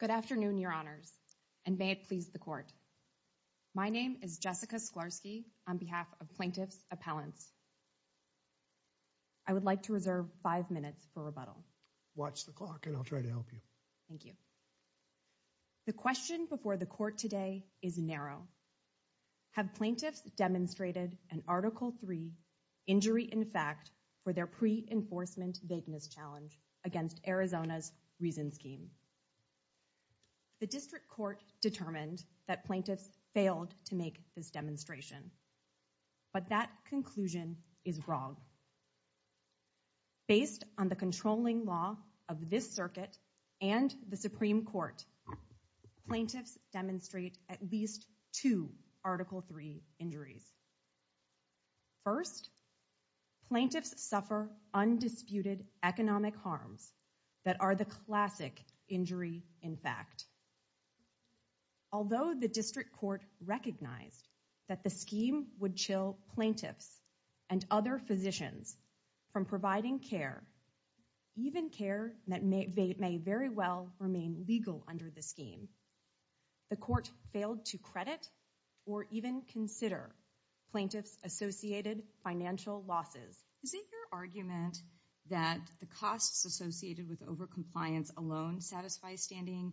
Good afternoon, Your Honors, and may it please the Court. My name is Jessica Sklarsky on behalf of Plaintiff's Appellants. I would like to reserve five minutes for rebuttal. Watch the clock and I'll try to help you. Thank you. The question before the Court today is narrow. Have plaintiffs demonstrated in Article III, Injury in Fact, for their pre-enforcement vagueness challenge against Arizona's Reason Scheme? The District Court determined that plaintiffs failed to make this demonstration, but that conclusion is wrong. Based on the controlling law of this circuit and the Supreme Court, plaintiffs demonstrate at least two Article III injuries. First, plaintiffs suffer undisputed economic harms that are the classic injury in fact. Although the District Court recognized that the scheme would chill plaintiffs and other physicians from providing care, even care that may very well remain legal under the scheme, the Court failed to credit or even consider plaintiffs' associated financial losses. Is it your argument that the costs associated with overcompliance alone satisfy standing claim,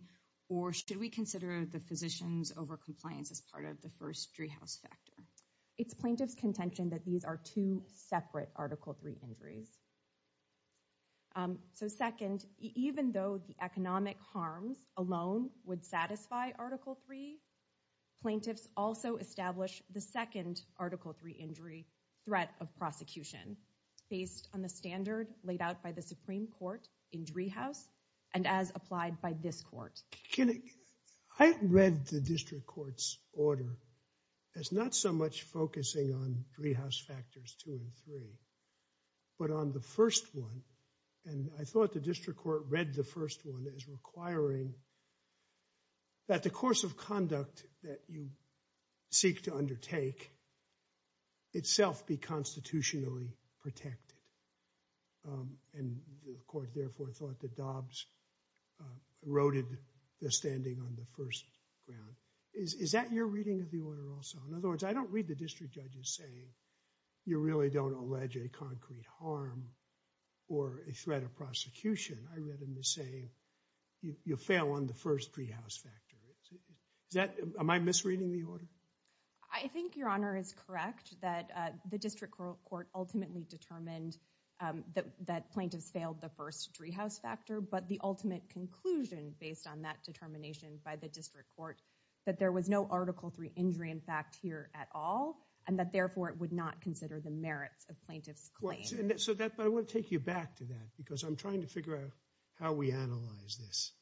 or should we consider the physicians' overcompliance as part of the first Driehaus factor? It's plaintiffs' contention that these are two separate Article III injuries. Second, even though the economic harms alone would satisfy Article III, plaintiffs also establish the second Article III injury, threat of prosecution, based on the standard laid out by the Supreme Court in Driehaus and as applied by this Court. I read the District Court's order as not so much focusing on Driehaus factors two and three, but on the first one. And I thought the District Court read the first one as requiring that the course of therefore thought that Dobbs eroded the standing on the first ground. Is that your reading of the order also? In other words, I don't read the district judges saying you really don't allege a concrete harm or a threat of prosecution. I read them as saying you fail on the first Driehaus factor. Am I misreading the order? I think your Honor is correct that the District Court ultimately determined that plaintiffs' failed the first Driehaus factor, but the ultimate conclusion based on that determination by the District Court that there was no Article III injury in fact here at all and that therefore it would not consider the merits of plaintiffs' claim. So I want to take you back to that because I'm trying to figure out how we analyze this.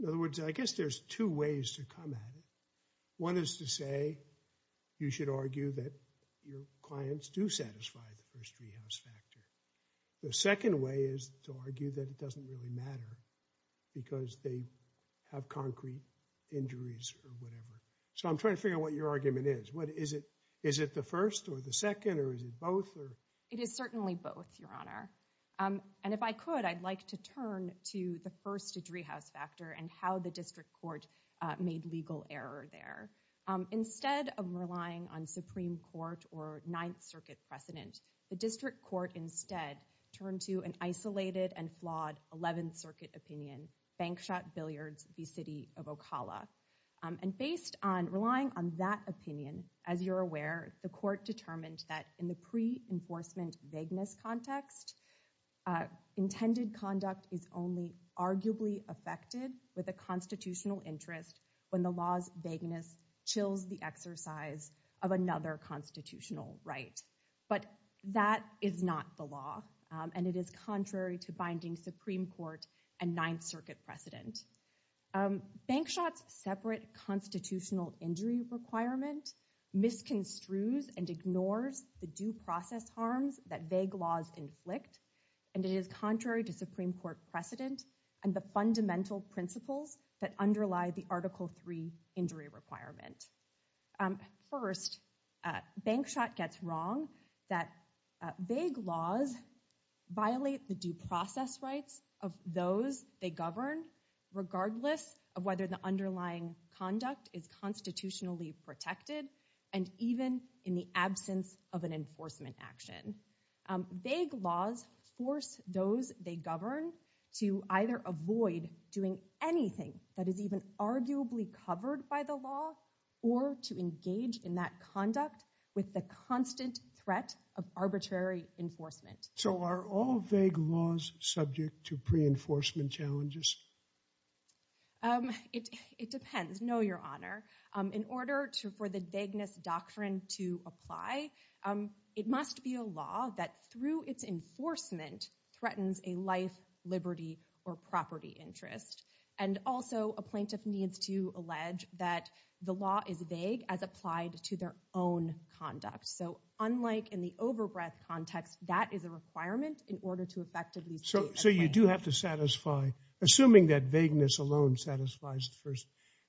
In other words, I guess there's two ways to come at it. One is to say you should argue that your clients do satisfy the first Driehaus factor. The second way is to argue that it doesn't really matter because they have concrete injuries or whatever. So I'm trying to figure out what your argument is. What is it? Is it the first or the second or is it both? It is certainly both, Your Honor. And if I could, I'd like to turn to the first Driehaus factor and how the District Court made legal error there. Instead of relying on Supreme Court or Ninth Circuit precedent, the District Court instead turned to an isolated and flawed Eleventh Circuit opinion, Bankshot Billiards v. City of Ocala. And based on relying on that opinion, as you're aware, the court determined that in the pre-enforcement vagueness context, intended conduct is only arguably affected with a constitutional interest when the law's vagueness chills the exercise of another constitutional right. But that is not the law. And it is contrary to binding Supreme Court and Ninth Circuit precedent. Bankshot's separate constitutional injury requirement misconstrues and ignores the due process harms that vague laws inflict. And it is contrary to Supreme Court precedent and the fundamental principles that underlie the Article III injury requirement. First, Bankshot gets wrong that vague laws violate the due process rights of those they govern regardless of whether the underlying conduct is constitutionally protected and even in the absence of an enforcement action. Vague laws force those they govern to either avoid doing anything that is even arguably covered by the law or to engage in that conduct with the constant threat of arbitrary enforcement. So are all vague laws subject to pre-enforcement challenges? It depends. No, Your Honor. In order for the vagueness doctrine to apply, it must be a law that through its enforcement threatens a life, liberty, or property interest. And also a plaintiff needs to allege that the law is vague as applied to their own conduct. So unlike in the over-breath context, that is a requirement in order to effectively state Assuming that vagueness alone satisfies the first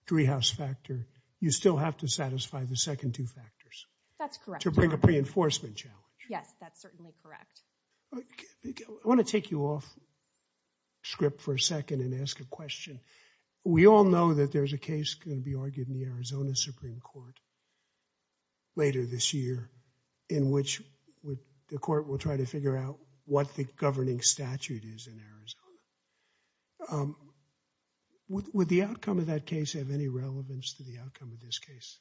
three-house factor, you still have to satisfy the second two factors. That's correct. To bring a pre-enforcement challenge. Yes, that's certainly correct. I want to take you off script for a second and ask a question. We all know that there's a case going to be argued in the Arizona Supreme Court later this year in which the court will try to figure out what the governing statute is in Arizona. Would the outcome of that case have any relevance to the outcome of this case?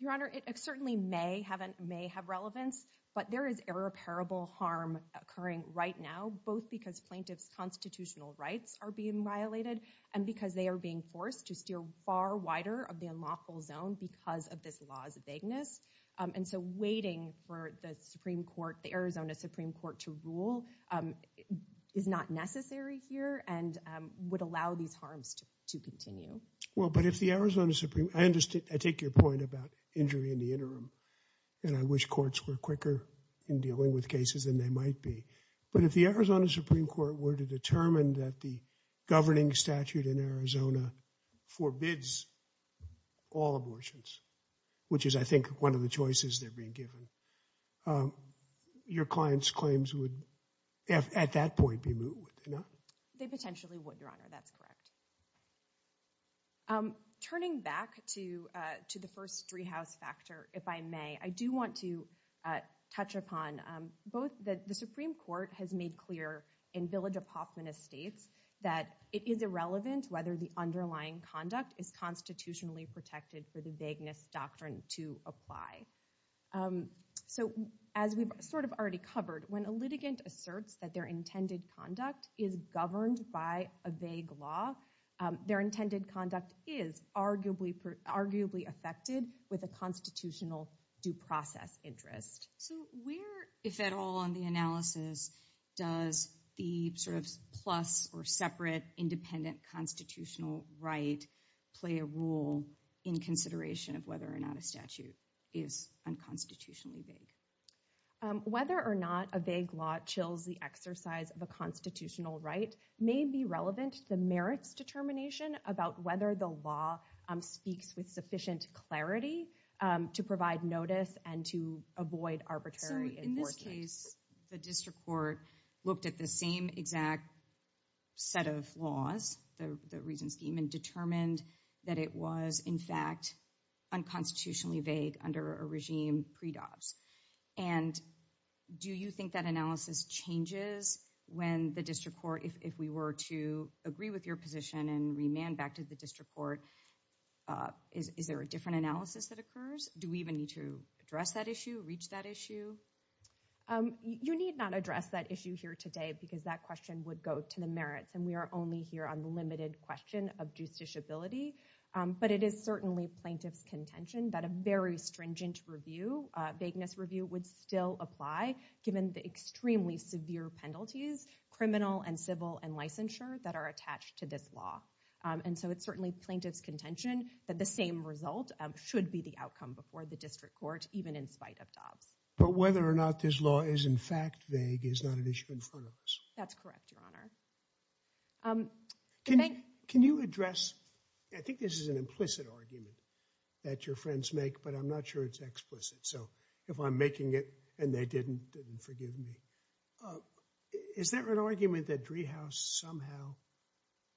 Your Honor, it certainly may have relevance. But there is irreparable harm occurring right now, both because plaintiffs' constitutional rights are being violated and because they are being forced to steer far wider of the laws of vagueness. And so waiting for the Supreme Court, the Arizona Supreme Court, to rule is not necessary here and would allow these harms to continue. Well, but if the Arizona Supreme, I understand, I take your point about injury in the interim. And I wish courts were quicker in dealing with cases than they might be. But if the Arizona Supreme Court were to determine that the governing statute in Arizona forbids all abortions, which is, I think, one of the choices that are being given, your clients' claims would, at that point, be moved, would they not? They potentially would, Your Honor. That's correct. Turning back to the first three-house factor, if I may, I do want to touch upon both that the Supreme Court has made clear in Village of Hoffman Estates that it is irrelevant whether the underlying conduct is constitutionally protected for the vagueness doctrine to apply. So as we've sort of already covered, when a litigant asserts that their intended conduct is governed by a vague law, their intended conduct is arguably affected with a constitutional due process interest. So where, if at all in the analysis, does the sort of plus or separate independent constitutional right play a role in consideration of whether or not a statute is unconstitutionally vague? Whether or not a vague law chills the exercise of a constitutional right may be relevant to the merits determination about whether the law speaks with sufficient clarity to avoid arbitrary enforcement. So in this case, the district court looked at the same exact set of laws, the reason scheme, and determined that it was, in fact, unconstitutionally vague under a regime pre-Dobbs. And do you think that analysis changes when the district court, if we were to agree with your position and remand back to the district court, is there a different analysis that occurs? Do we even need to address that issue, reach that issue? You need not address that issue here today because that question would go to the merits and we are only here on the limited question of justiciability. But it is certainly plaintiff's contention that a very stringent review, vagueness review, would still apply given the extremely severe penalties, criminal and civil and licensure, that are attached to this law. And so it's certainly plaintiff's contention that the same result should be the outcome before the district court, even in spite of Dobbs. But whether or not this law is, in fact, vague is not an issue in front of us. That's correct, Your Honor. Can you address, I think this is an implicit argument that your friends make, but I'm not sure it's explicit. So if I'm making it and they didn't, then forgive me. Is there an argument that Driehaus somehow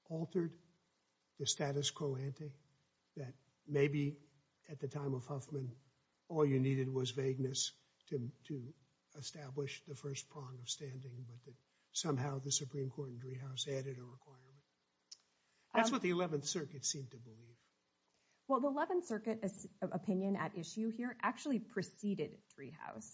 altered the status quo ante, that maybe at the time of Huffman, all you needed was vagueness to establish the first prong of standing, but that somehow the Supreme Court and Driehaus added a requirement? That's what the 11th Circuit seemed to believe. Well, the 11th Circuit opinion at issue here actually preceded Driehaus.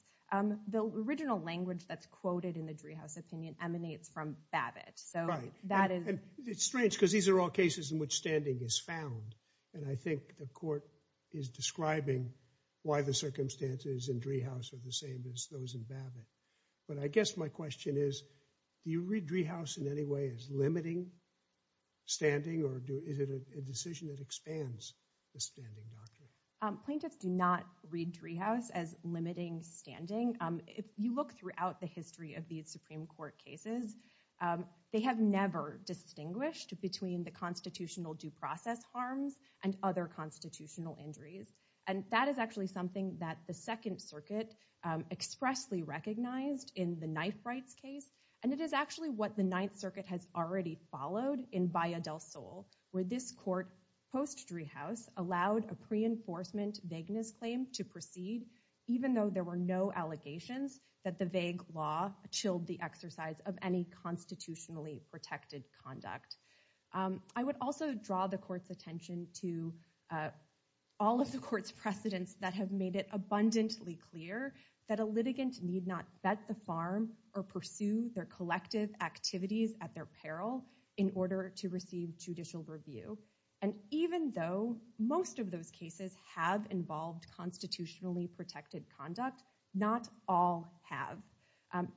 The original language that's quoted in the Driehaus opinion emanates from Babbitt. Right. It's strange because these are all cases in which standing is found. And I think the court is describing why the circumstances in Driehaus are the same as those in Babbitt. But I guess my question is, do you read Driehaus in any way as limiting standing? Or is it a decision that expands the standing doctrine? Plaintiffs do not read Driehaus as limiting standing. If you look throughout the history of these Supreme Court cases, they have never distinguished between the constitutional due process harms and other constitutional injuries. And that is actually something that the Second Circuit expressly recognized in the Knife Rights case. And it is actually what the Ninth Circuit has already followed in Baya del Sol, where this court, post-Driehaus, allowed a pre-enforcement vagueness claim to proceed, even though there were no allegations that the vague law chilled the exercise of any constitutionally protected conduct. I would also draw the court's attention to all of the court's precedents that have made it abundantly clear that a litigant need not vet the farm or pursue their collective activities at their peril in order to receive judicial review. And even though most of those cases have involved constitutionally protected conduct, not all have.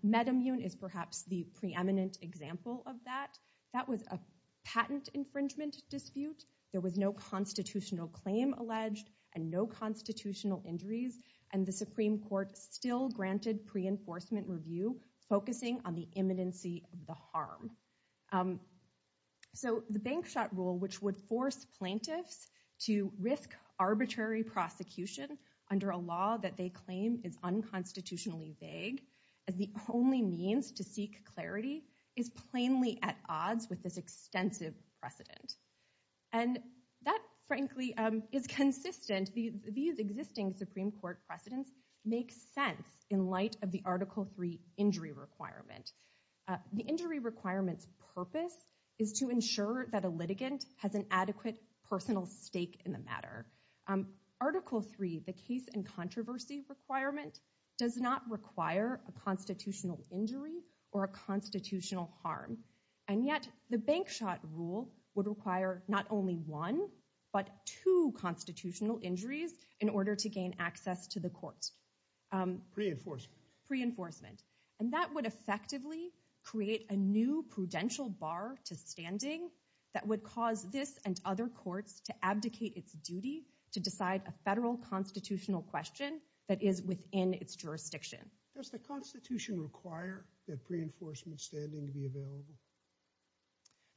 MedImmune is perhaps the preeminent example of that. That was a patent infringement dispute. There was no constitutional claim alleged and no constitutional injuries. And the Supreme Court still granted pre-enforcement review, focusing on the imminency of the harm. So the Bank Shot Rule, which would force plaintiffs to risk arbitrary prosecution under a law that they claim is unconstitutionally vague as the only means to seek clarity, is plainly at odds with this extensive precedent. And that, frankly, is consistent. These existing Supreme Court precedents make sense in light of the Article III injury requirement. The injury requirement's purpose is to ensure that a litigant has an adequate personal stake in the matter. Article III, the case and controversy requirement, does not require a constitutional injury or a constitutional harm. And yet the Bank Shot Rule would require not only one, but two constitutional injuries in order to gain access to the courts. Pre-enforcement. Pre-enforcement. And that would effectively create a new prudential bar to standing that would cause this and other courts to abdicate its duty to decide a federal constitutional question that is within its jurisdiction. Does the Constitution require that pre-enforcement standing be available?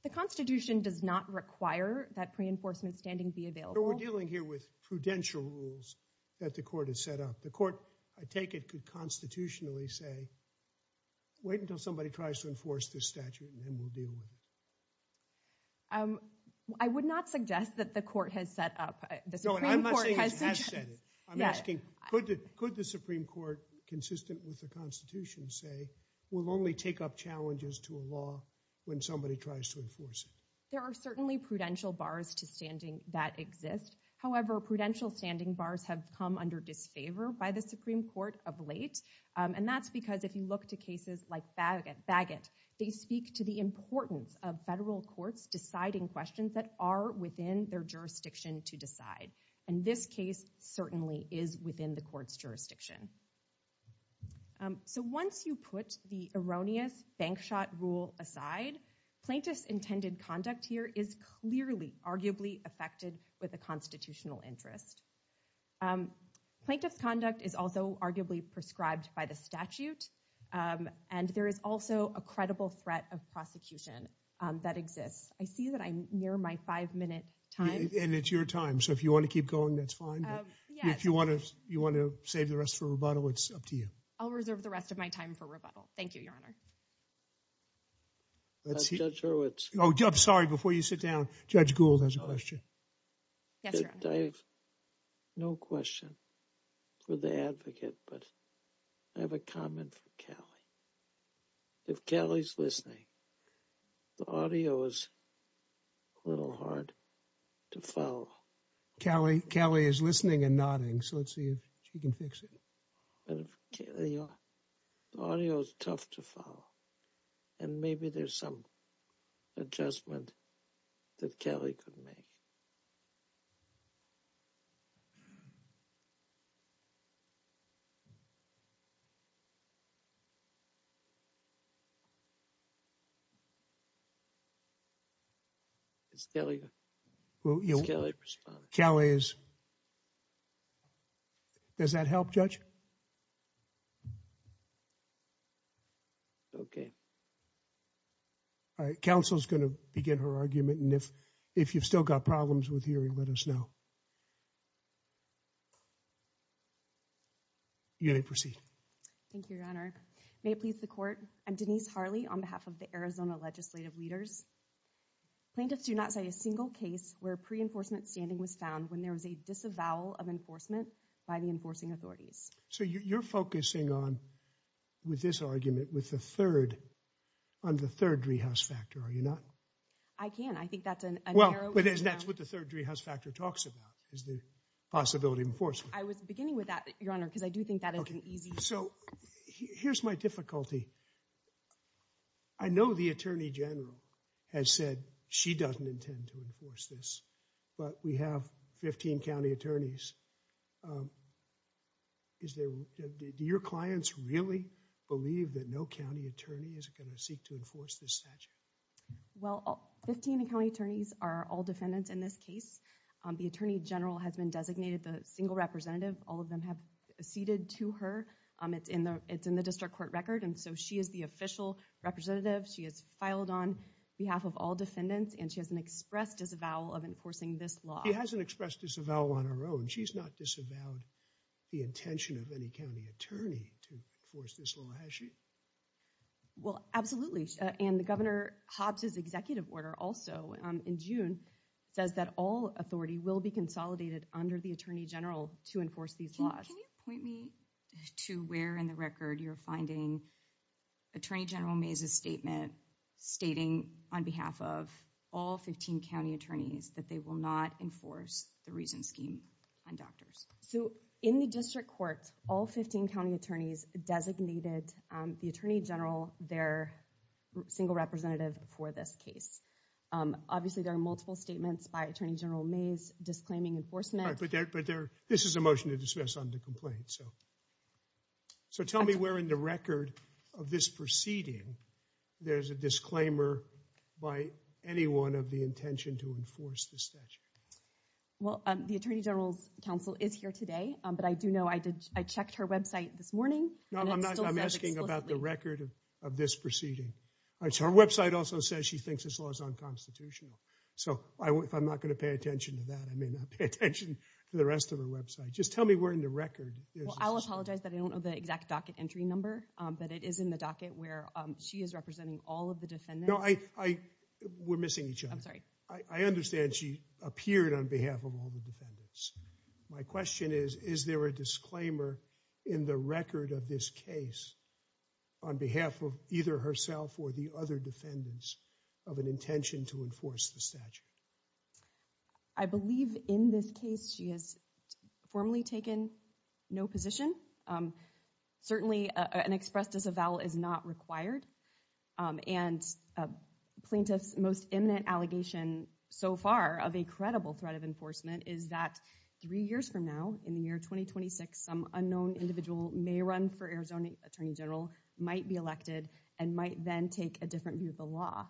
The Constitution does not require that pre-enforcement standing be available. But we're dealing here with prudential rules that the court has set up. The court, I take it, could constitutionally say, wait until somebody tries to enforce this statute and then we'll deal with it. I would not suggest that the court has set up. No, and I'm not saying it has set up. I'm asking, could the Supreme Court, consistent with the Constitution, say we'll only take up challenges to a law when somebody tries to enforce it? There are certainly prudential bars to standing that exist. However, prudential standing bars have come under disfavor by the Supreme Court of late. And that's because if you look to cases like Bagot, they speak to the importance of federal courts deciding questions that are within their jurisdiction to decide. And this case certainly is within the court's jurisdiction. So once you put the erroneous bank shot rule aside, plaintiff's intended conduct here is clearly arguably affected with a constitutional interest. Plaintiff's conduct is also arguably prescribed by the statute. And there is also a credible threat of prosecution that exists. I see that I'm near my five minute time. And it's your time. So if you want to keep going, that's fine. If you want to you want to save the rest for rebuttal, it's up to you. I'll reserve the rest of my time for rebuttal. Thank you, Your Honor. Judge Hurwitz. Oh, I'm sorry. Before you sit down, Judge Gould has a question. Yes, Your Honor. I have no question for the advocate, but I have a comment for Callie. If Callie's listening, the audio is a little hard to follow. Callie is listening and nodding, so let's see if she can fix it. The audio is tough to follow. And maybe there's some adjustment that Callie could make. Is Callie responding? Callie is. Does that help, Judge? Okay. All right, counsel is going to begin her argument. And if you've still got problems with hearing, let us know. You may proceed. Thank you, Your Honor. May it please the court, I'm Denise Harley on behalf of the Arizona legislative leaders. Plaintiffs do not say a single case where pre-enforcement standing was found when there was a disavowal of enforcement by the enforcing authorities. So you're focusing on, with this argument, with the third, on the third Driehaus factor, are you not? I can. I think that's an arrow. Well, but that's what the third Driehaus factor talks about, is the possibility of enforcement. I was beginning with that, Your Honor, because I do think that is an easy. So here's my difficulty. I know the Attorney General has said she doesn't intend to enforce this, but we have 15 county attorneys. Do your clients really believe that no county attorney is going to seek to enforce this statute? Well, 15 county attorneys are all defendants in this case. The Attorney General has been designated the single representative. All of them have ceded to her. It's in the district court record, and so she is the official representative. She has filed on behalf of all defendants, and she hasn't expressed disavowal of enforcing this law. She hasn't expressed disavowal on her own. She's not disavowed the intention of any county attorney to enforce this law, has she? Well, absolutely. And Governor Hobbs's executive order also in June says that all authority will be consolidated under the Attorney General to enforce these laws. Can you point me to where in the record you're finding Attorney General Mays' statement stating on behalf of all 15 county attorneys that they will not enforce the Reason Scheme on doctors? So in the district court, all 15 county attorneys designated the Attorney General their single representative for this case. Obviously, there are multiple statements by Attorney General Mays disclaiming enforcement. But this is a motion to dismiss on the complaint. So tell me where in the record of this proceeding there's a disclaimer by anyone of the intention to enforce the statute. Well, the Attorney General's counsel is here today, but I do know I checked her website this morning. No, I'm asking about the record of this proceeding. Her website also says she thinks this law is unconstitutional. So if I'm not going to pay attention to that, I may not pay attention to the rest of her website. Just tell me where in the record. Well, I'll apologize that I don't know the exact docket entry number, but it is in the docket where she is representing all of the defendants. No, we're missing each other. I'm sorry. I understand she appeared on behalf of all the defendants. My question is, is there a disclaimer in the record of this case on behalf of either herself or the other defendants of an intention to enforce the statute? I believe in this case she has formally taken no position. Certainly, an express disavowal is not required. And plaintiff's most imminent allegation so far of a credible threat of enforcement is that three years from now, in the year 2026, some unknown individual may run for Arizona Attorney General, might be elected, and might then take a different view of the law.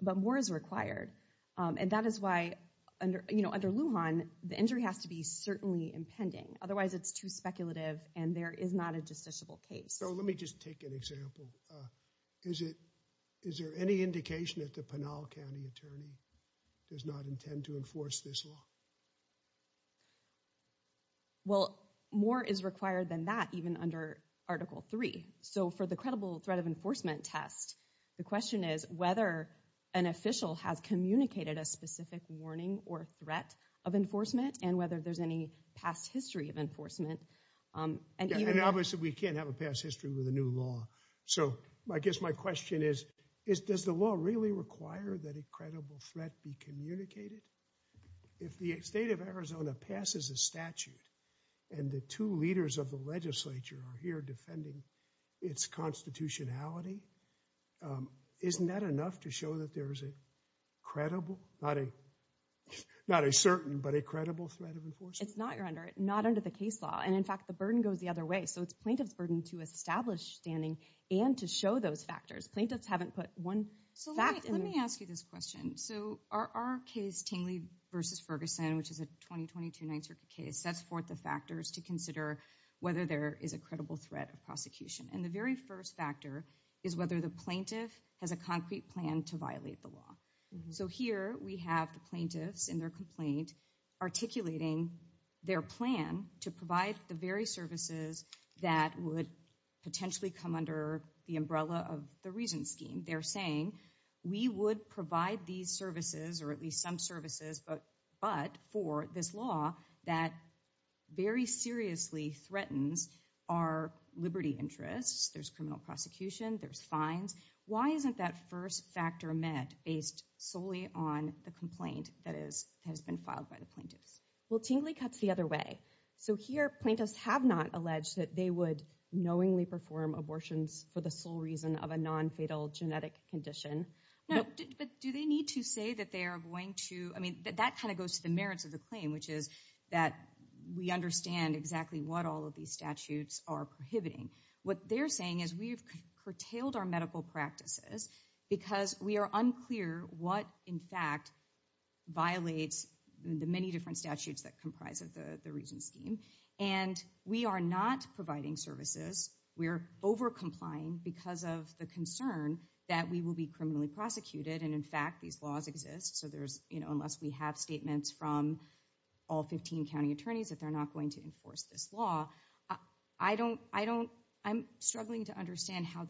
But more is required. And that is why under Lujan, the injury has to be certainly impending. Otherwise, it's too speculative and there is not a justiciable case. So let me just take an example. Is there any indication that the Pinal County attorney does not intend to enforce this law? Well, more is required than that, even under Article 3. So for the credible threat of enforcement test, the question is whether an official has communicated a specific warning or threat of enforcement, And obviously we can't have a past history with a new law. So I guess my question is, does the law really require that a credible threat be communicated? If the state of Arizona passes a statute and the two leaders of the legislature are here defending its constitutionality, isn't that enough to show that there is a credible, not a certain, but a credible threat of enforcement? It's not, Your Honor, not under the case law. And in fact, the burden goes the other way. So it's plaintiff's burden to establish standing and to show those factors. Plaintiffs haven't put one fact in there. So let me ask you this question. So our case, Tingley v. Ferguson, which is a 2022 Ninth Circuit case, sets forth the factors to consider whether there is a credible threat of prosecution. And the very first factor is whether the plaintiff has a concrete plan to violate the law. So here we have the plaintiffs in their complaint articulating their plan to provide the very services that would potentially come under the umbrella of the reason scheme. They're saying, we would provide these services, or at least some services, but for this law that very seriously threatens our liberty interests. There's criminal prosecution. There's fines. Why isn't that first factor met based solely on the complaint that has been filed by the plaintiffs? Well, Tingley cuts the other way. So here plaintiffs have not alleged that they would knowingly perform abortions for the sole reason of a nonfatal genetic condition. But do they need to say that they are going to, I mean, that kind of goes to the merits of the claim, which is that we understand exactly what all of these statutes are prohibiting. What they're saying is we've curtailed our medical practices because we are unclear what in fact violates the many different statutes that comprise of the reason scheme. And we are not providing services. We're over complying because of the concern that we will be criminally prosecuted. And in fact, these laws exist. So there's, you know, unless we have statements from all 15 county attorneys that they're not going to enforce this law. I don't, I don't, I'm struggling to understand how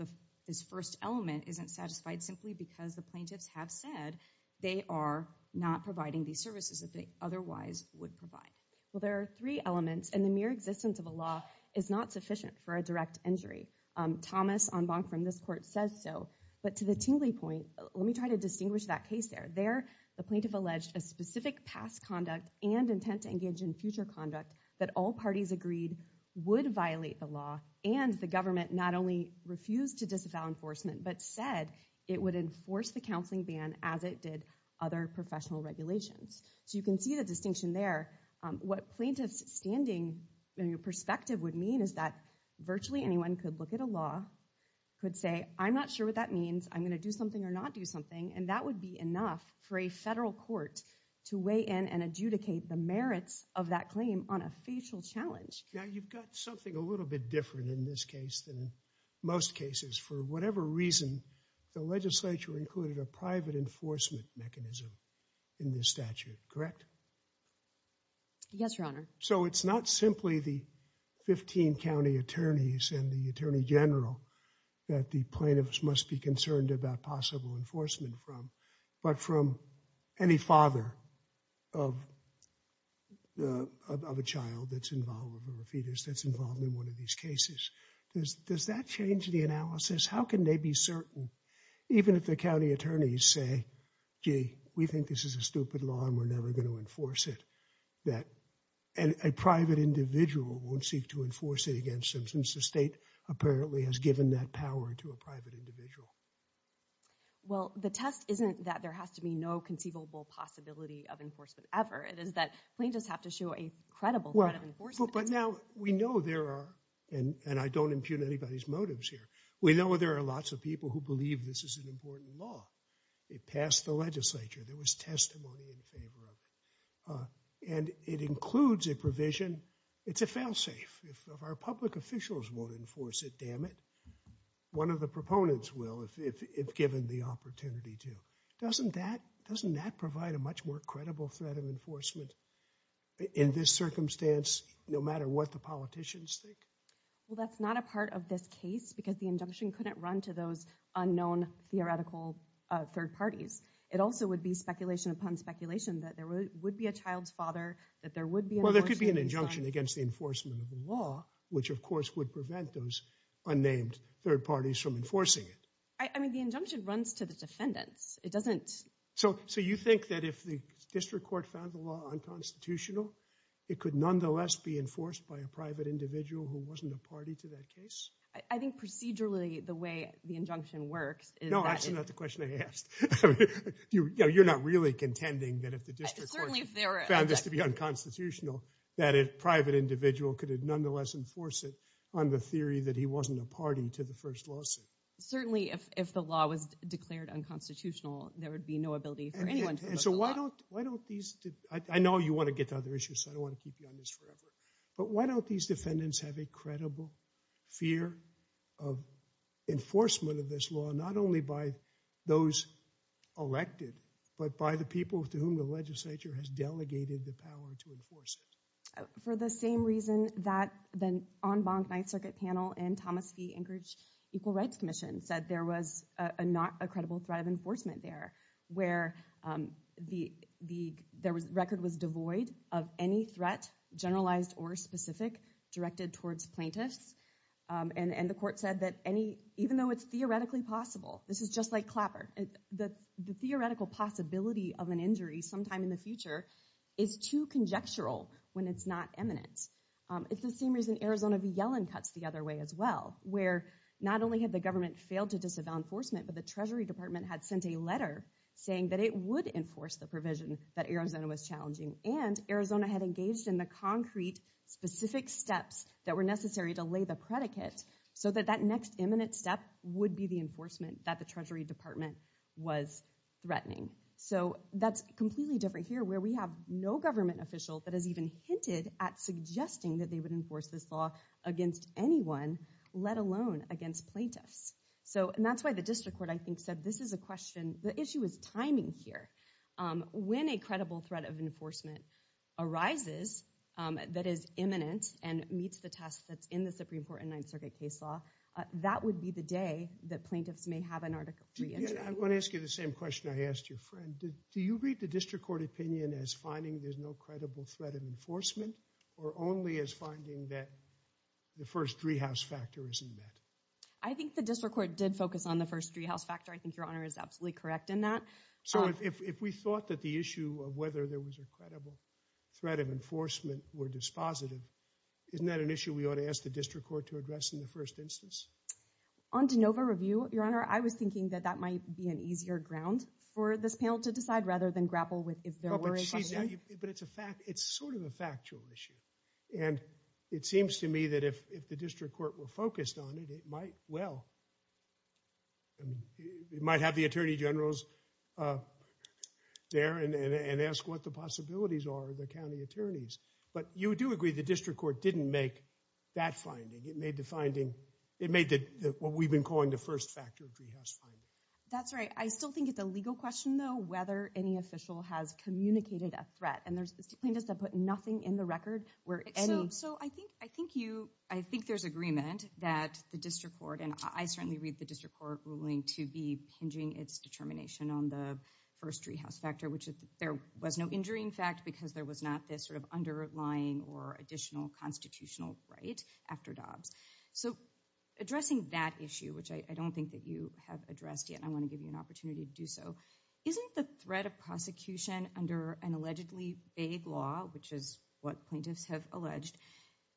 this first element isn't satisfied simply because the plaintiffs have said they are not providing these services that they otherwise would provide. Well, there are three elements and the mere existence of a law is not sufficient for a direct injury. Thomas on bond from this court says so. But to the Tingley point, let me try to distinguish that case there. There, the plaintiff alleged a specific past conduct and intent to engage in future conduct that all parties agreed would violate the law. And the government not only refused to disavow enforcement, but said it would enforce the counseling ban as it did other professional regulations. So you can see the distinction there. What plaintiffs standing in your perspective would mean is that virtually anyone could look at a law, could say, I'm not sure what that means. I'm going to do something or not do something. And that would be enough for a federal court to weigh in and adjudicate the merits of that claim on a facial challenge. Now, you've got something a little bit different in this case than most cases. For whatever reason, the legislature included a private enforcement mechanism in this statute. Correct? Yes, Your Honor. So it's not simply the 15 county attorneys and the attorney general that the plaintiffs must be concerned about possible enforcement from, but from any father of a child that's involved, a fetus that's involved in one of these cases. Does that change the analysis? How can they be certain, even if the county attorneys say, gee, we think this is a stupid law and we're never going to enforce it, that a private individual won't seek to enforce it against them since the state apparently has given that power to a private individual? Well, the test isn't that there has to be no conceivable possibility of enforcement ever. It is that plaintiffs have to show a credible threat of enforcement. But now we know there are, and I don't impugn anybody's motives here, we know there are lots of people who believe this is an important law. It passed the legislature. There was testimony in favor of it. And it includes a provision, it's a failsafe. If our public officials won't enforce it, damn it, one of the proponents will if given the opportunity to. Doesn't that provide a much more credible threat of enforcement in this circumstance, no matter what the politicians think? Well, that's not a part of this case because the injunction couldn't run to those unknown theoretical third parties. It also would be speculation upon speculation that there would be a child's father, that there would be an election. There would be an injunction against the enforcement of the law, which of course would prevent those unnamed third parties from enforcing it. I mean, the injunction runs to the defendants. So you think that if the district court found the law unconstitutional, it could nonetheless be enforced by a private individual who wasn't a party to that case? I think procedurally, the way the injunction works is that— No, that's not the question I asked. You're not really contending that if the district court found this to be unconstitutional, that a private individual could have nonetheless enforce it on the theory that he wasn't a party to the first lawsuit? Certainly, if the law was declared unconstitutional, there would be no ability for anyone to invoke the law. So why don't these—I know you want to get to other issues, so I don't want to keep you on this forever— but why don't these defendants have a credible fear of enforcement of this law, not only by those elected, but by the people to whom the legislature has delegated the power to enforce it? For the same reason that the en banc Ninth Circuit panel and Thomas V. Anchorage Equal Rights Commission said there was not a credible threat of enforcement there, where the record was devoid of any threat, generalized or specific, directed towards plaintiffs, and the court said that even though it's theoretically possible— this is just like Clapper— the theoretical possibility of an injury sometime in the future is too conjectural when it's not imminent. It's the same reason Arizona v. Yellen cuts the other way as well, where not only had the government failed to disavow enforcement, but the Treasury Department had sent a letter saying that it would enforce the provision that Arizona was challenging, and Arizona had engaged in the concrete, specific steps that were necessary to lay the predicate so that that next imminent step would be the enforcement that the Treasury Department was threatening. So that's completely different here, where we have no government official that has even hinted at suggesting that they would enforce this law against anyone, let alone against plaintiffs. And that's why the district court, I think, said this is a question— the issue is timing here. When a credible threat of enforcement arises that is imminent and meets the test that's in the Supreme Court and Ninth Circuit case law, that would be the day that plaintiffs may have an article of reentry. I want to ask you the same question I asked your friend. Do you read the district court opinion as finding there's no credible threat of enforcement or only as finding that the first treehouse factor isn't met? I think the district court did focus on the first treehouse factor. I think Your Honor is absolutely correct in that. So if we thought that the issue of whether there was a credible threat of enforcement were dispositive, isn't that an issue we ought to ask the district court to address in the first instance? On de novo review, Your Honor, I was thinking that that might be an easier ground for this panel to decide rather than grapple with if there were a— But it's a fact—it's sort of a factual issue. And it seems to me that if the district court were focused on it, it might well—it might have the attorney generals there and ask what the possibilities are of the county attorneys. But you do agree the district court didn't make that finding. It made the finding—it made what we've been calling the first factor treehouse finding. That's right. I still think it's a legal question, though, whether any official has communicated a threat. And there's plaintiffs that put nothing in the record where any— So I think you—I think there's agreement that the district court— and I certainly read the district court ruling to be pinging its determination on the first treehouse factor, which there was no injury, in fact, because there was not this sort of underlying or additional constitutional right after Dobbs. So addressing that issue, which I don't think that you have addressed yet, and I want to give you an opportunity to do so, isn't the threat of prosecution under an allegedly vague law, which is what plaintiffs have alleged,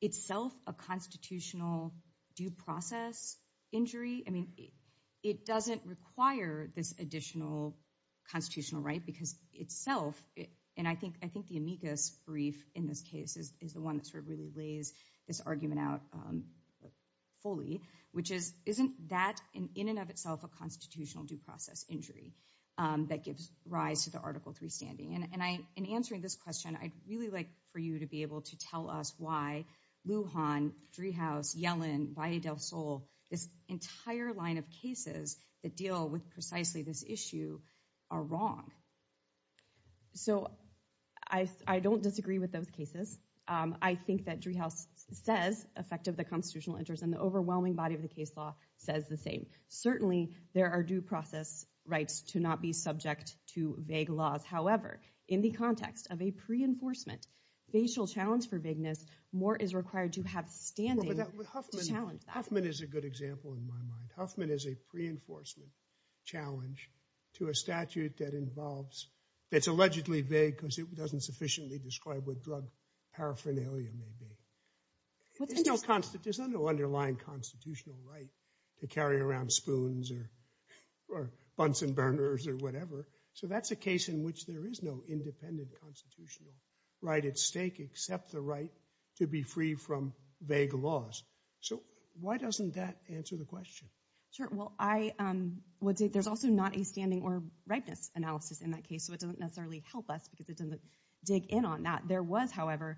itself a constitutional due process injury? I mean, it doesn't require this additional constitutional right because itself—and I think the amicus brief in this case is the one that sort of really lays this argument out fully, which is, isn't that in and of itself a constitutional due process injury that gives rise to the Article III standing? And in answering this question, I'd really like for you to be able to tell us why Lujan, treehouse, Yellen, Valle del Sol, this entire line of cases that deal with precisely this issue, are wrong. So I don't disagree with those cases. I think that treehouse says effective the constitutional interest and the overwhelming body of the case law says the same. Certainly, there are due process rights to not be subject to vague laws. However, in the context of a pre-enforcement facial challenge for vagueness, more is required to have standing to challenge that. Huffman is a good example in my mind. Huffman is a pre-enforcement challenge to a statute that involves— that's allegedly vague because it doesn't sufficiently describe what drug paraphernalia may be. There's no underlying constitutional right to carry around spoons or Bunsen burners or whatever. So that's a case in which there is no independent constitutional right at stake except the right to be free from vague laws. So why doesn't that answer the question? Sure. Well, I would say there's also not a standing or rightness analysis in that case, so it doesn't necessarily help us because it doesn't dig in on that. There was, however,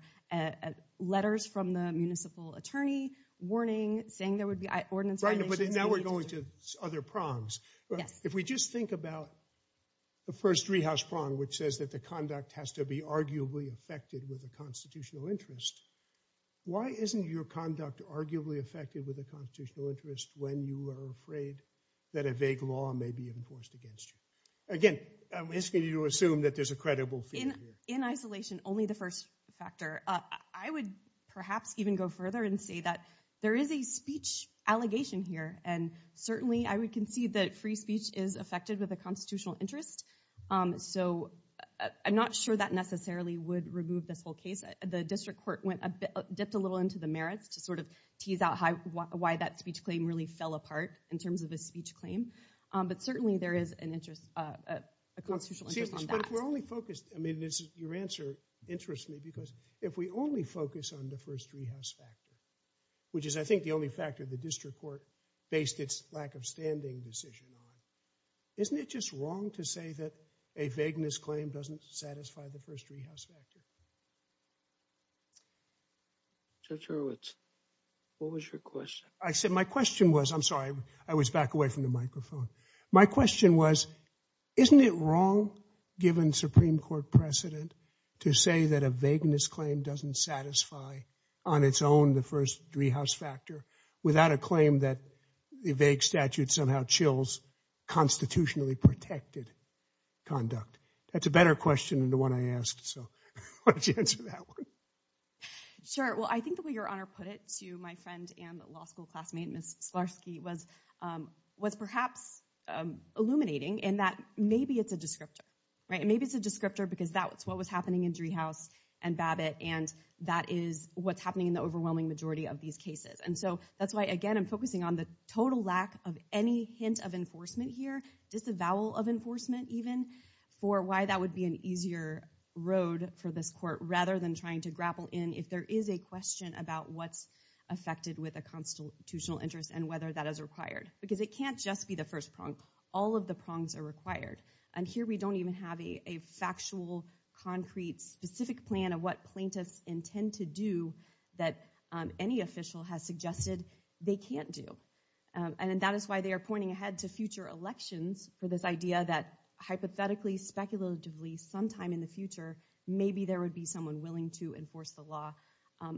letters from the municipal attorney warning, saying there would be— Right, but now we're going to other prongs. If we just think about the first treehouse prong, which says that the conduct has to be arguably affected with a constitutional interest, why isn't your conduct arguably affected with a constitutional interest when you are afraid that a vague law may be enforced against you? Again, I'm asking you to assume that there's a credible fear here. In isolation, only the first factor. I would perhaps even go further and say that there is a speech allegation here, and certainly I would concede that free speech is affected with a constitutional interest. So I'm not sure that necessarily would remove this whole case. The district court dipped a little into the merits to sort of tease out why that speech claim really fell apart in terms of a speech claim, but certainly there is a constitutional interest on that. But if we're only focused—I mean, your answer interests me because if we only focus on the first treehouse factor, which is I think the only factor the district court based its lack of standing decision on, isn't it just wrong to say that a vagueness claim doesn't satisfy the first treehouse factor? Judge Hurwitz, what was your question? My question was—I'm sorry, I was back away from the microphone. My question was, isn't it wrong, given Supreme Court precedent, to say that a vagueness claim doesn't satisfy on its own the first treehouse factor without a claim that the vague statute somehow chills constitutionally protected conduct? That's a better question than the one I asked, so why don't you answer that one? Sure. Well, I think the way your Honor put it to my friend and law school classmate, Ms. Slarsky, was perhaps illuminating in that maybe it's a descriptor, right? Maybe it's a descriptor because that's what was happening in Treehouse and Babbitt, and that is what's happening in the overwhelming majority of these cases. And so that's why, again, I'm focusing on the total lack of any hint of enforcement here, just a vowel of enforcement even, for why that would be an easier road for this court rather than trying to grapple in if there is a question about what's affected with a constitutional interest and whether that is required. Because it can't just be the first prong. All of the prongs are required. And here we don't even have a factual, concrete, specific plan of what plaintiffs intend to do that any official has suggested they can't do. And that is why they are pointing ahead to future elections for this idea that hypothetically, speculatively, sometime in the future, maybe there would be someone willing to enforce the law,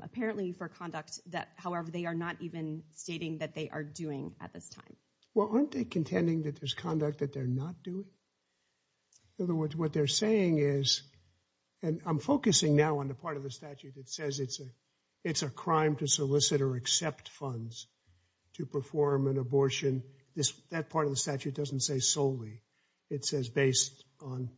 apparently for conduct that, however, they are not even stating that they are doing at this time. Well, aren't they contending that there's conduct that they're not doing? In other words, what they're saying is, and I'm focusing now on the part of the statute that says it's a crime to solicit or accept funds to perform an abortion. That part of the statute doesn't say solely. It says based on,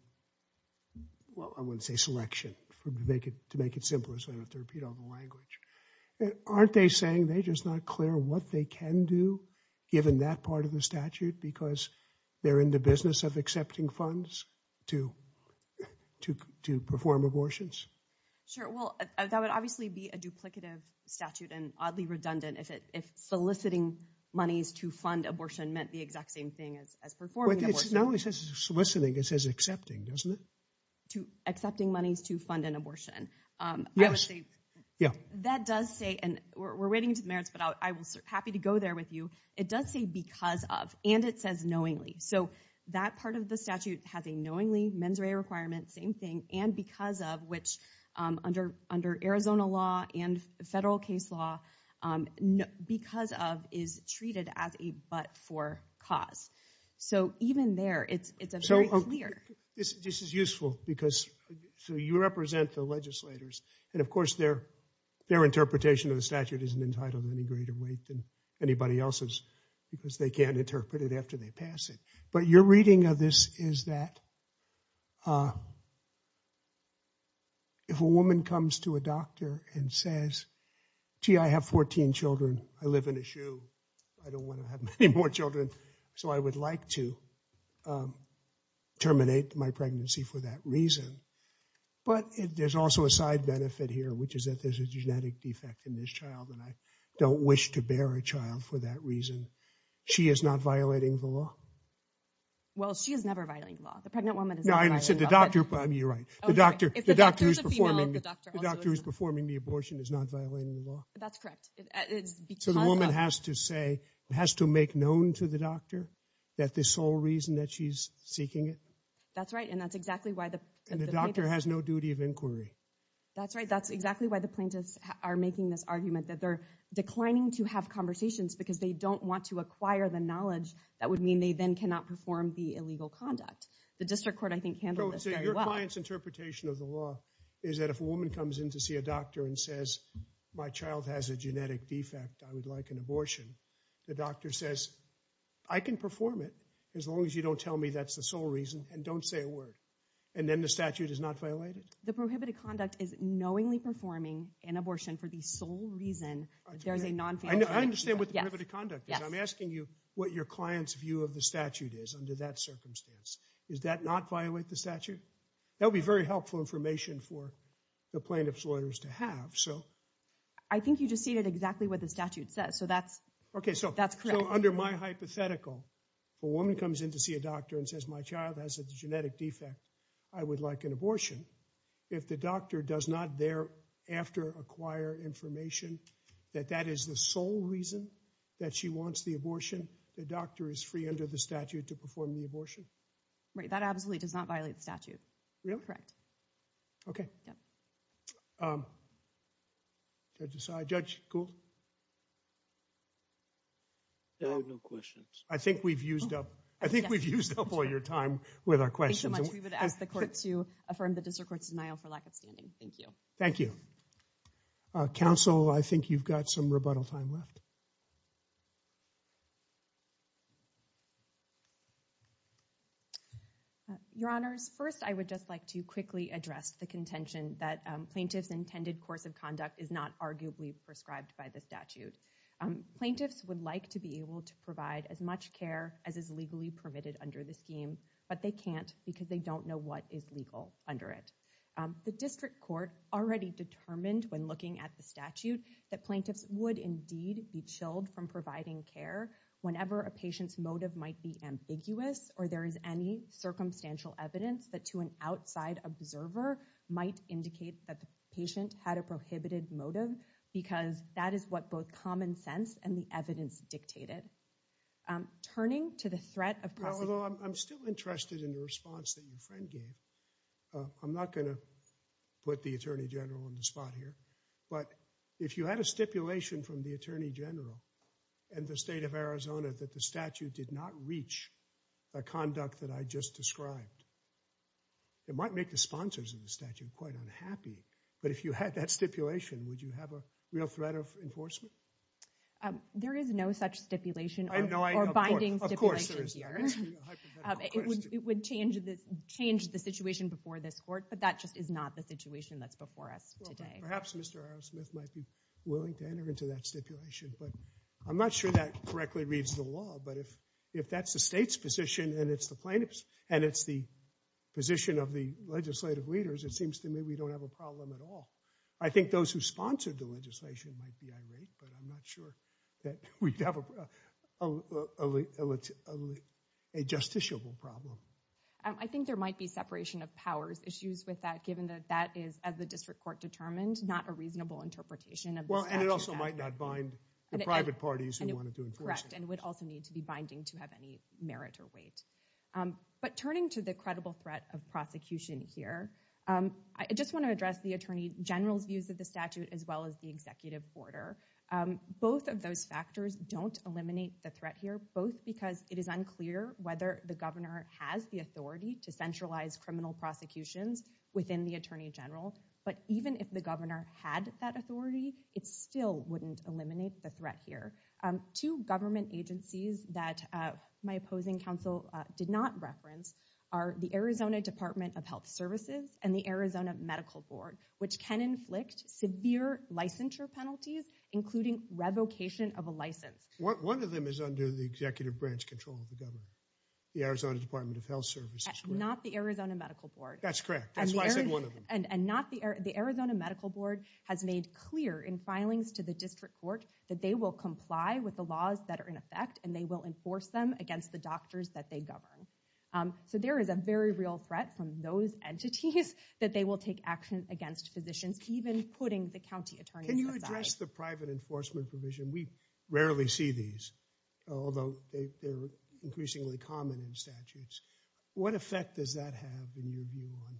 well, I wouldn't say selection, to make it simpler so I don't have to repeat all the language. Aren't they saying they're just not clear what they can do, given that part of the statute, because they're in the business of accepting funds to perform abortions? Sure. Well, that would obviously be a duplicative statute and oddly redundant if soliciting monies to fund abortion meant the exact same thing as performing abortion. It not only says soliciting, it says accepting, doesn't it? Accepting monies to fund an abortion. Yes. Yeah. That does say, and we're waiting to the merits, but I was happy to go there with you. It does say because of, and it says knowingly. So that part of the statute has a knowingly mens rea requirement, same thing, and because of, which under Arizona law and federal case law, because of is treated as a but-for cause. So even there, it's very clear. This is useful because you represent the legislators, and of course their interpretation of the statute isn't entitled to any greater weight than anybody else's because they can't interpret it after they pass it. But your reading of this is that if a woman comes to a doctor and says, gee, I have 14 children, I live in a shoe, I don't want to have many more children, so I would like to terminate my pregnancy for that reason. But there's also a side benefit here, which is that there's a genetic defect in this child, and I don't wish to bear a child for that reason. She is not violating the law? Well, she is never violating the law. The pregnant woman is never violating the law. You're right. The doctor who's performing the abortion is not violating the law. That's correct. So the woman has to say, has to make known to the doctor that this is the sole reason that she's seeking it? That's right, and that's exactly why the plaintiff... And the doctor has no duty of inquiry. That's right. That's exactly why the plaintiffs are making this argument that they're declining to have conversations because they don't want to acquire the knowledge that would mean they then cannot perform the illegal conduct. The district court, I think, handled this very well. So your client's interpretation of the law is that if a woman comes in to see a doctor and says, my child has a genetic defect, I would like an abortion, the doctor says, I can perform it as long as you don't tell me that's the sole reason, and don't say a word, and then the statute is not violated? The prohibited conduct is knowingly performing an abortion for the sole reason there's a non-failure statute. I understand what the prohibited conduct is. I'm asking you what your client's view of the statute is under that circumstance. Does that not violate the statute? That would be very helpful information for the plaintiff's lawyers to have. I think you just stated exactly what the statute says, so that's correct. So under my hypothetical, if a woman comes in to see a doctor and says, my child has a genetic defect, I would like an abortion, if the doctor does not thereafter acquire information that that is the sole reason that she wants the abortion, the doctor is free under the statute to perform the abortion? Right, that absolutely does not violate the statute. Really? Correct. Okay. Yeah. Judge Gould? I have no questions. I think we've used up all your time with our questions. We would ask the court to affirm the district court's denial for lack of standing. Thank you. Thank you. Counsel, I think you've got some rebuttal time left. Your Honors, first I would just like to quickly address the contention that plaintiff's intended course of conduct is not arguably prescribed by the statute. Plaintiffs would like to be able to provide as much care as is legally permitted under the scheme, but they can't because they don't know what is legal under it. The district court already determined when looking at the statute that plaintiffs would indeed be chilled from providing care whenever a patient's motive might be ambiguous or there is any circumstantial evidence that to an outside observer might indicate that the patient had a prohibited motive because that is what both common sense and the evidence dictated. Turning to the threat of prosecution. I'm still interested in the response that your friend gave. I'm not going to put the Attorney General on the spot here, but if you had a stipulation from the Attorney General and the state of Arizona that the statute did not reach the conduct that I just described, it might make the sponsors of the statute quite unhappy. But if you had that stipulation, would you have a real threat of enforcement? There is no such stipulation or binding stipulation here. It would change the situation before this court, but that just is not the situation that's before us today. Perhaps Mr. Arrowsmith might be willing to enter into that stipulation, but I'm not sure that correctly reads the law. But if that's the state's position and it's the plaintiff's and it's the position of the legislative leaders, it seems to me we don't have a problem at all. I think those who sponsored the legislation might be irate, but I'm not sure that we have a justiciable problem. I think there might be separation of powers issues with that given that that is, as the district court determined, not a reasonable interpretation of the statute. And it also might not bind the private parties who wanted to enforce it. Correct, and would also need to be binding to have any merit or weight. But turning to the credible threat of prosecution here, I just want to address the attorney general's views of the statute as well as the executive order. Both of those factors don't eliminate the threat here, both because it is unclear whether the governor has the authority to centralize criminal prosecutions within the attorney general. But even if the governor had that authority, it still wouldn't eliminate the threat here. Two government agencies that my opposing counsel did not reference are the Arizona Department of Health Services and the Arizona Medical Board, which can inflict severe licensure penalties, including revocation of a license. One of them is under the executive branch control of the government, the Arizona Department of Health Services. Not the Arizona Medical Board. That's correct. That's why I said one of them. And the Arizona Medical Board has made clear in filings to the district court that they will comply with the laws that are in effect and they will enforce them against the doctors that they govern. So there is a very real threat from those entities that they will take action against physicians, even putting the county attorney on the side. Can you address the private enforcement provision? We rarely see these, although they're increasingly common in statutes. What effect does that have in your view on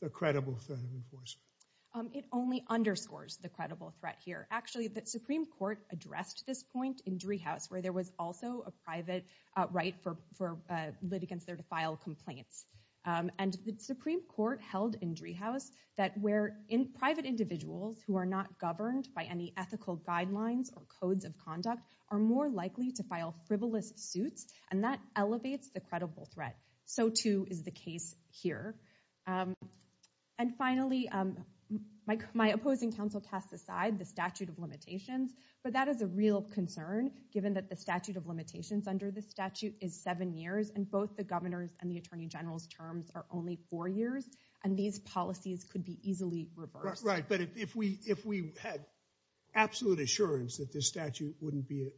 the credible threat of enforcement? It only underscores the credible threat here. Actually, the Supreme Court addressed this point in Driehaus where there was also a private right for litigants there to file complaints. And the Supreme Court held in Driehaus that where in private individuals who are not governed by any ethical guidelines or codes of conduct are more likely to file frivolous suits and that elevates the credible threat. So too is the case here. And finally, my opposing counsel cast aside the statute of limitations, but that is a real concern given that the statute of limitations under this statute is seven years and both the governor's and the attorney general's terms are only four years. And these policies could be easily reversed. Right, but if we had absolute assurance that this statute wouldn't be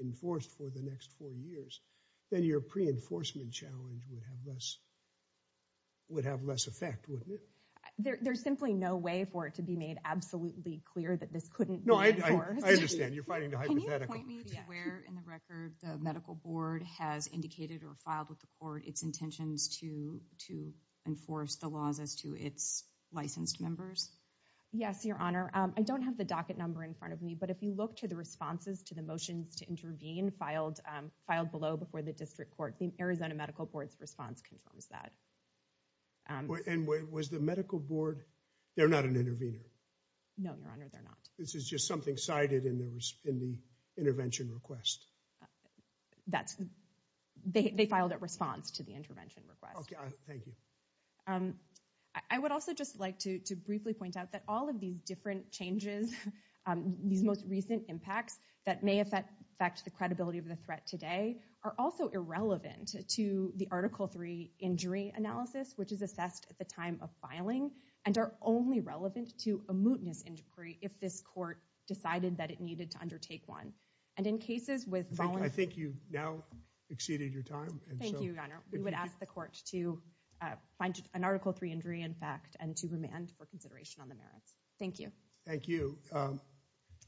enforced for the next four years, then your pre-enforcement challenge would have less effect, wouldn't it? There's simply no way for it to be made absolutely clear that this couldn't be enforced. No, I understand. You're fighting the hypothetical. Can you point me to where in the record the medical board has indicated or filed with the court its intentions to enforce the laws as to its licensed members? Yes, Your Honor. I don't have the docket number in front of me, but if you look to the responses to the motions to intervene filed below before the district court, the Arizona Medical Board's response confirms that. And was the medical board, they're not an intervener. No, Your Honor, they're not. This is just something cited in the intervention request. They filed a response to the intervention request. Thank you. I would also just like to briefly point out that all of these different changes, these most recent impacts that may affect the credibility of the threat today, are also irrelevant to the Article III injury analysis, which is assessed at the time of filing, and are only relevant to a mootness inquiry if this court decided that it needed to undertake one. I think you've now exceeded your time. Thank you, Your Honor. We would ask the court to find an Article III injury in fact and to remand for consideration on the merits. Thank you. Thank you.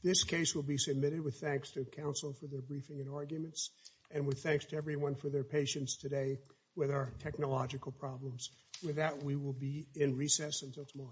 This case will be submitted with thanks to counsel for their briefing and arguments and with thanks to everyone for their patience today with our technological problems. With that, we will be in recess until tomorrow. Thank you.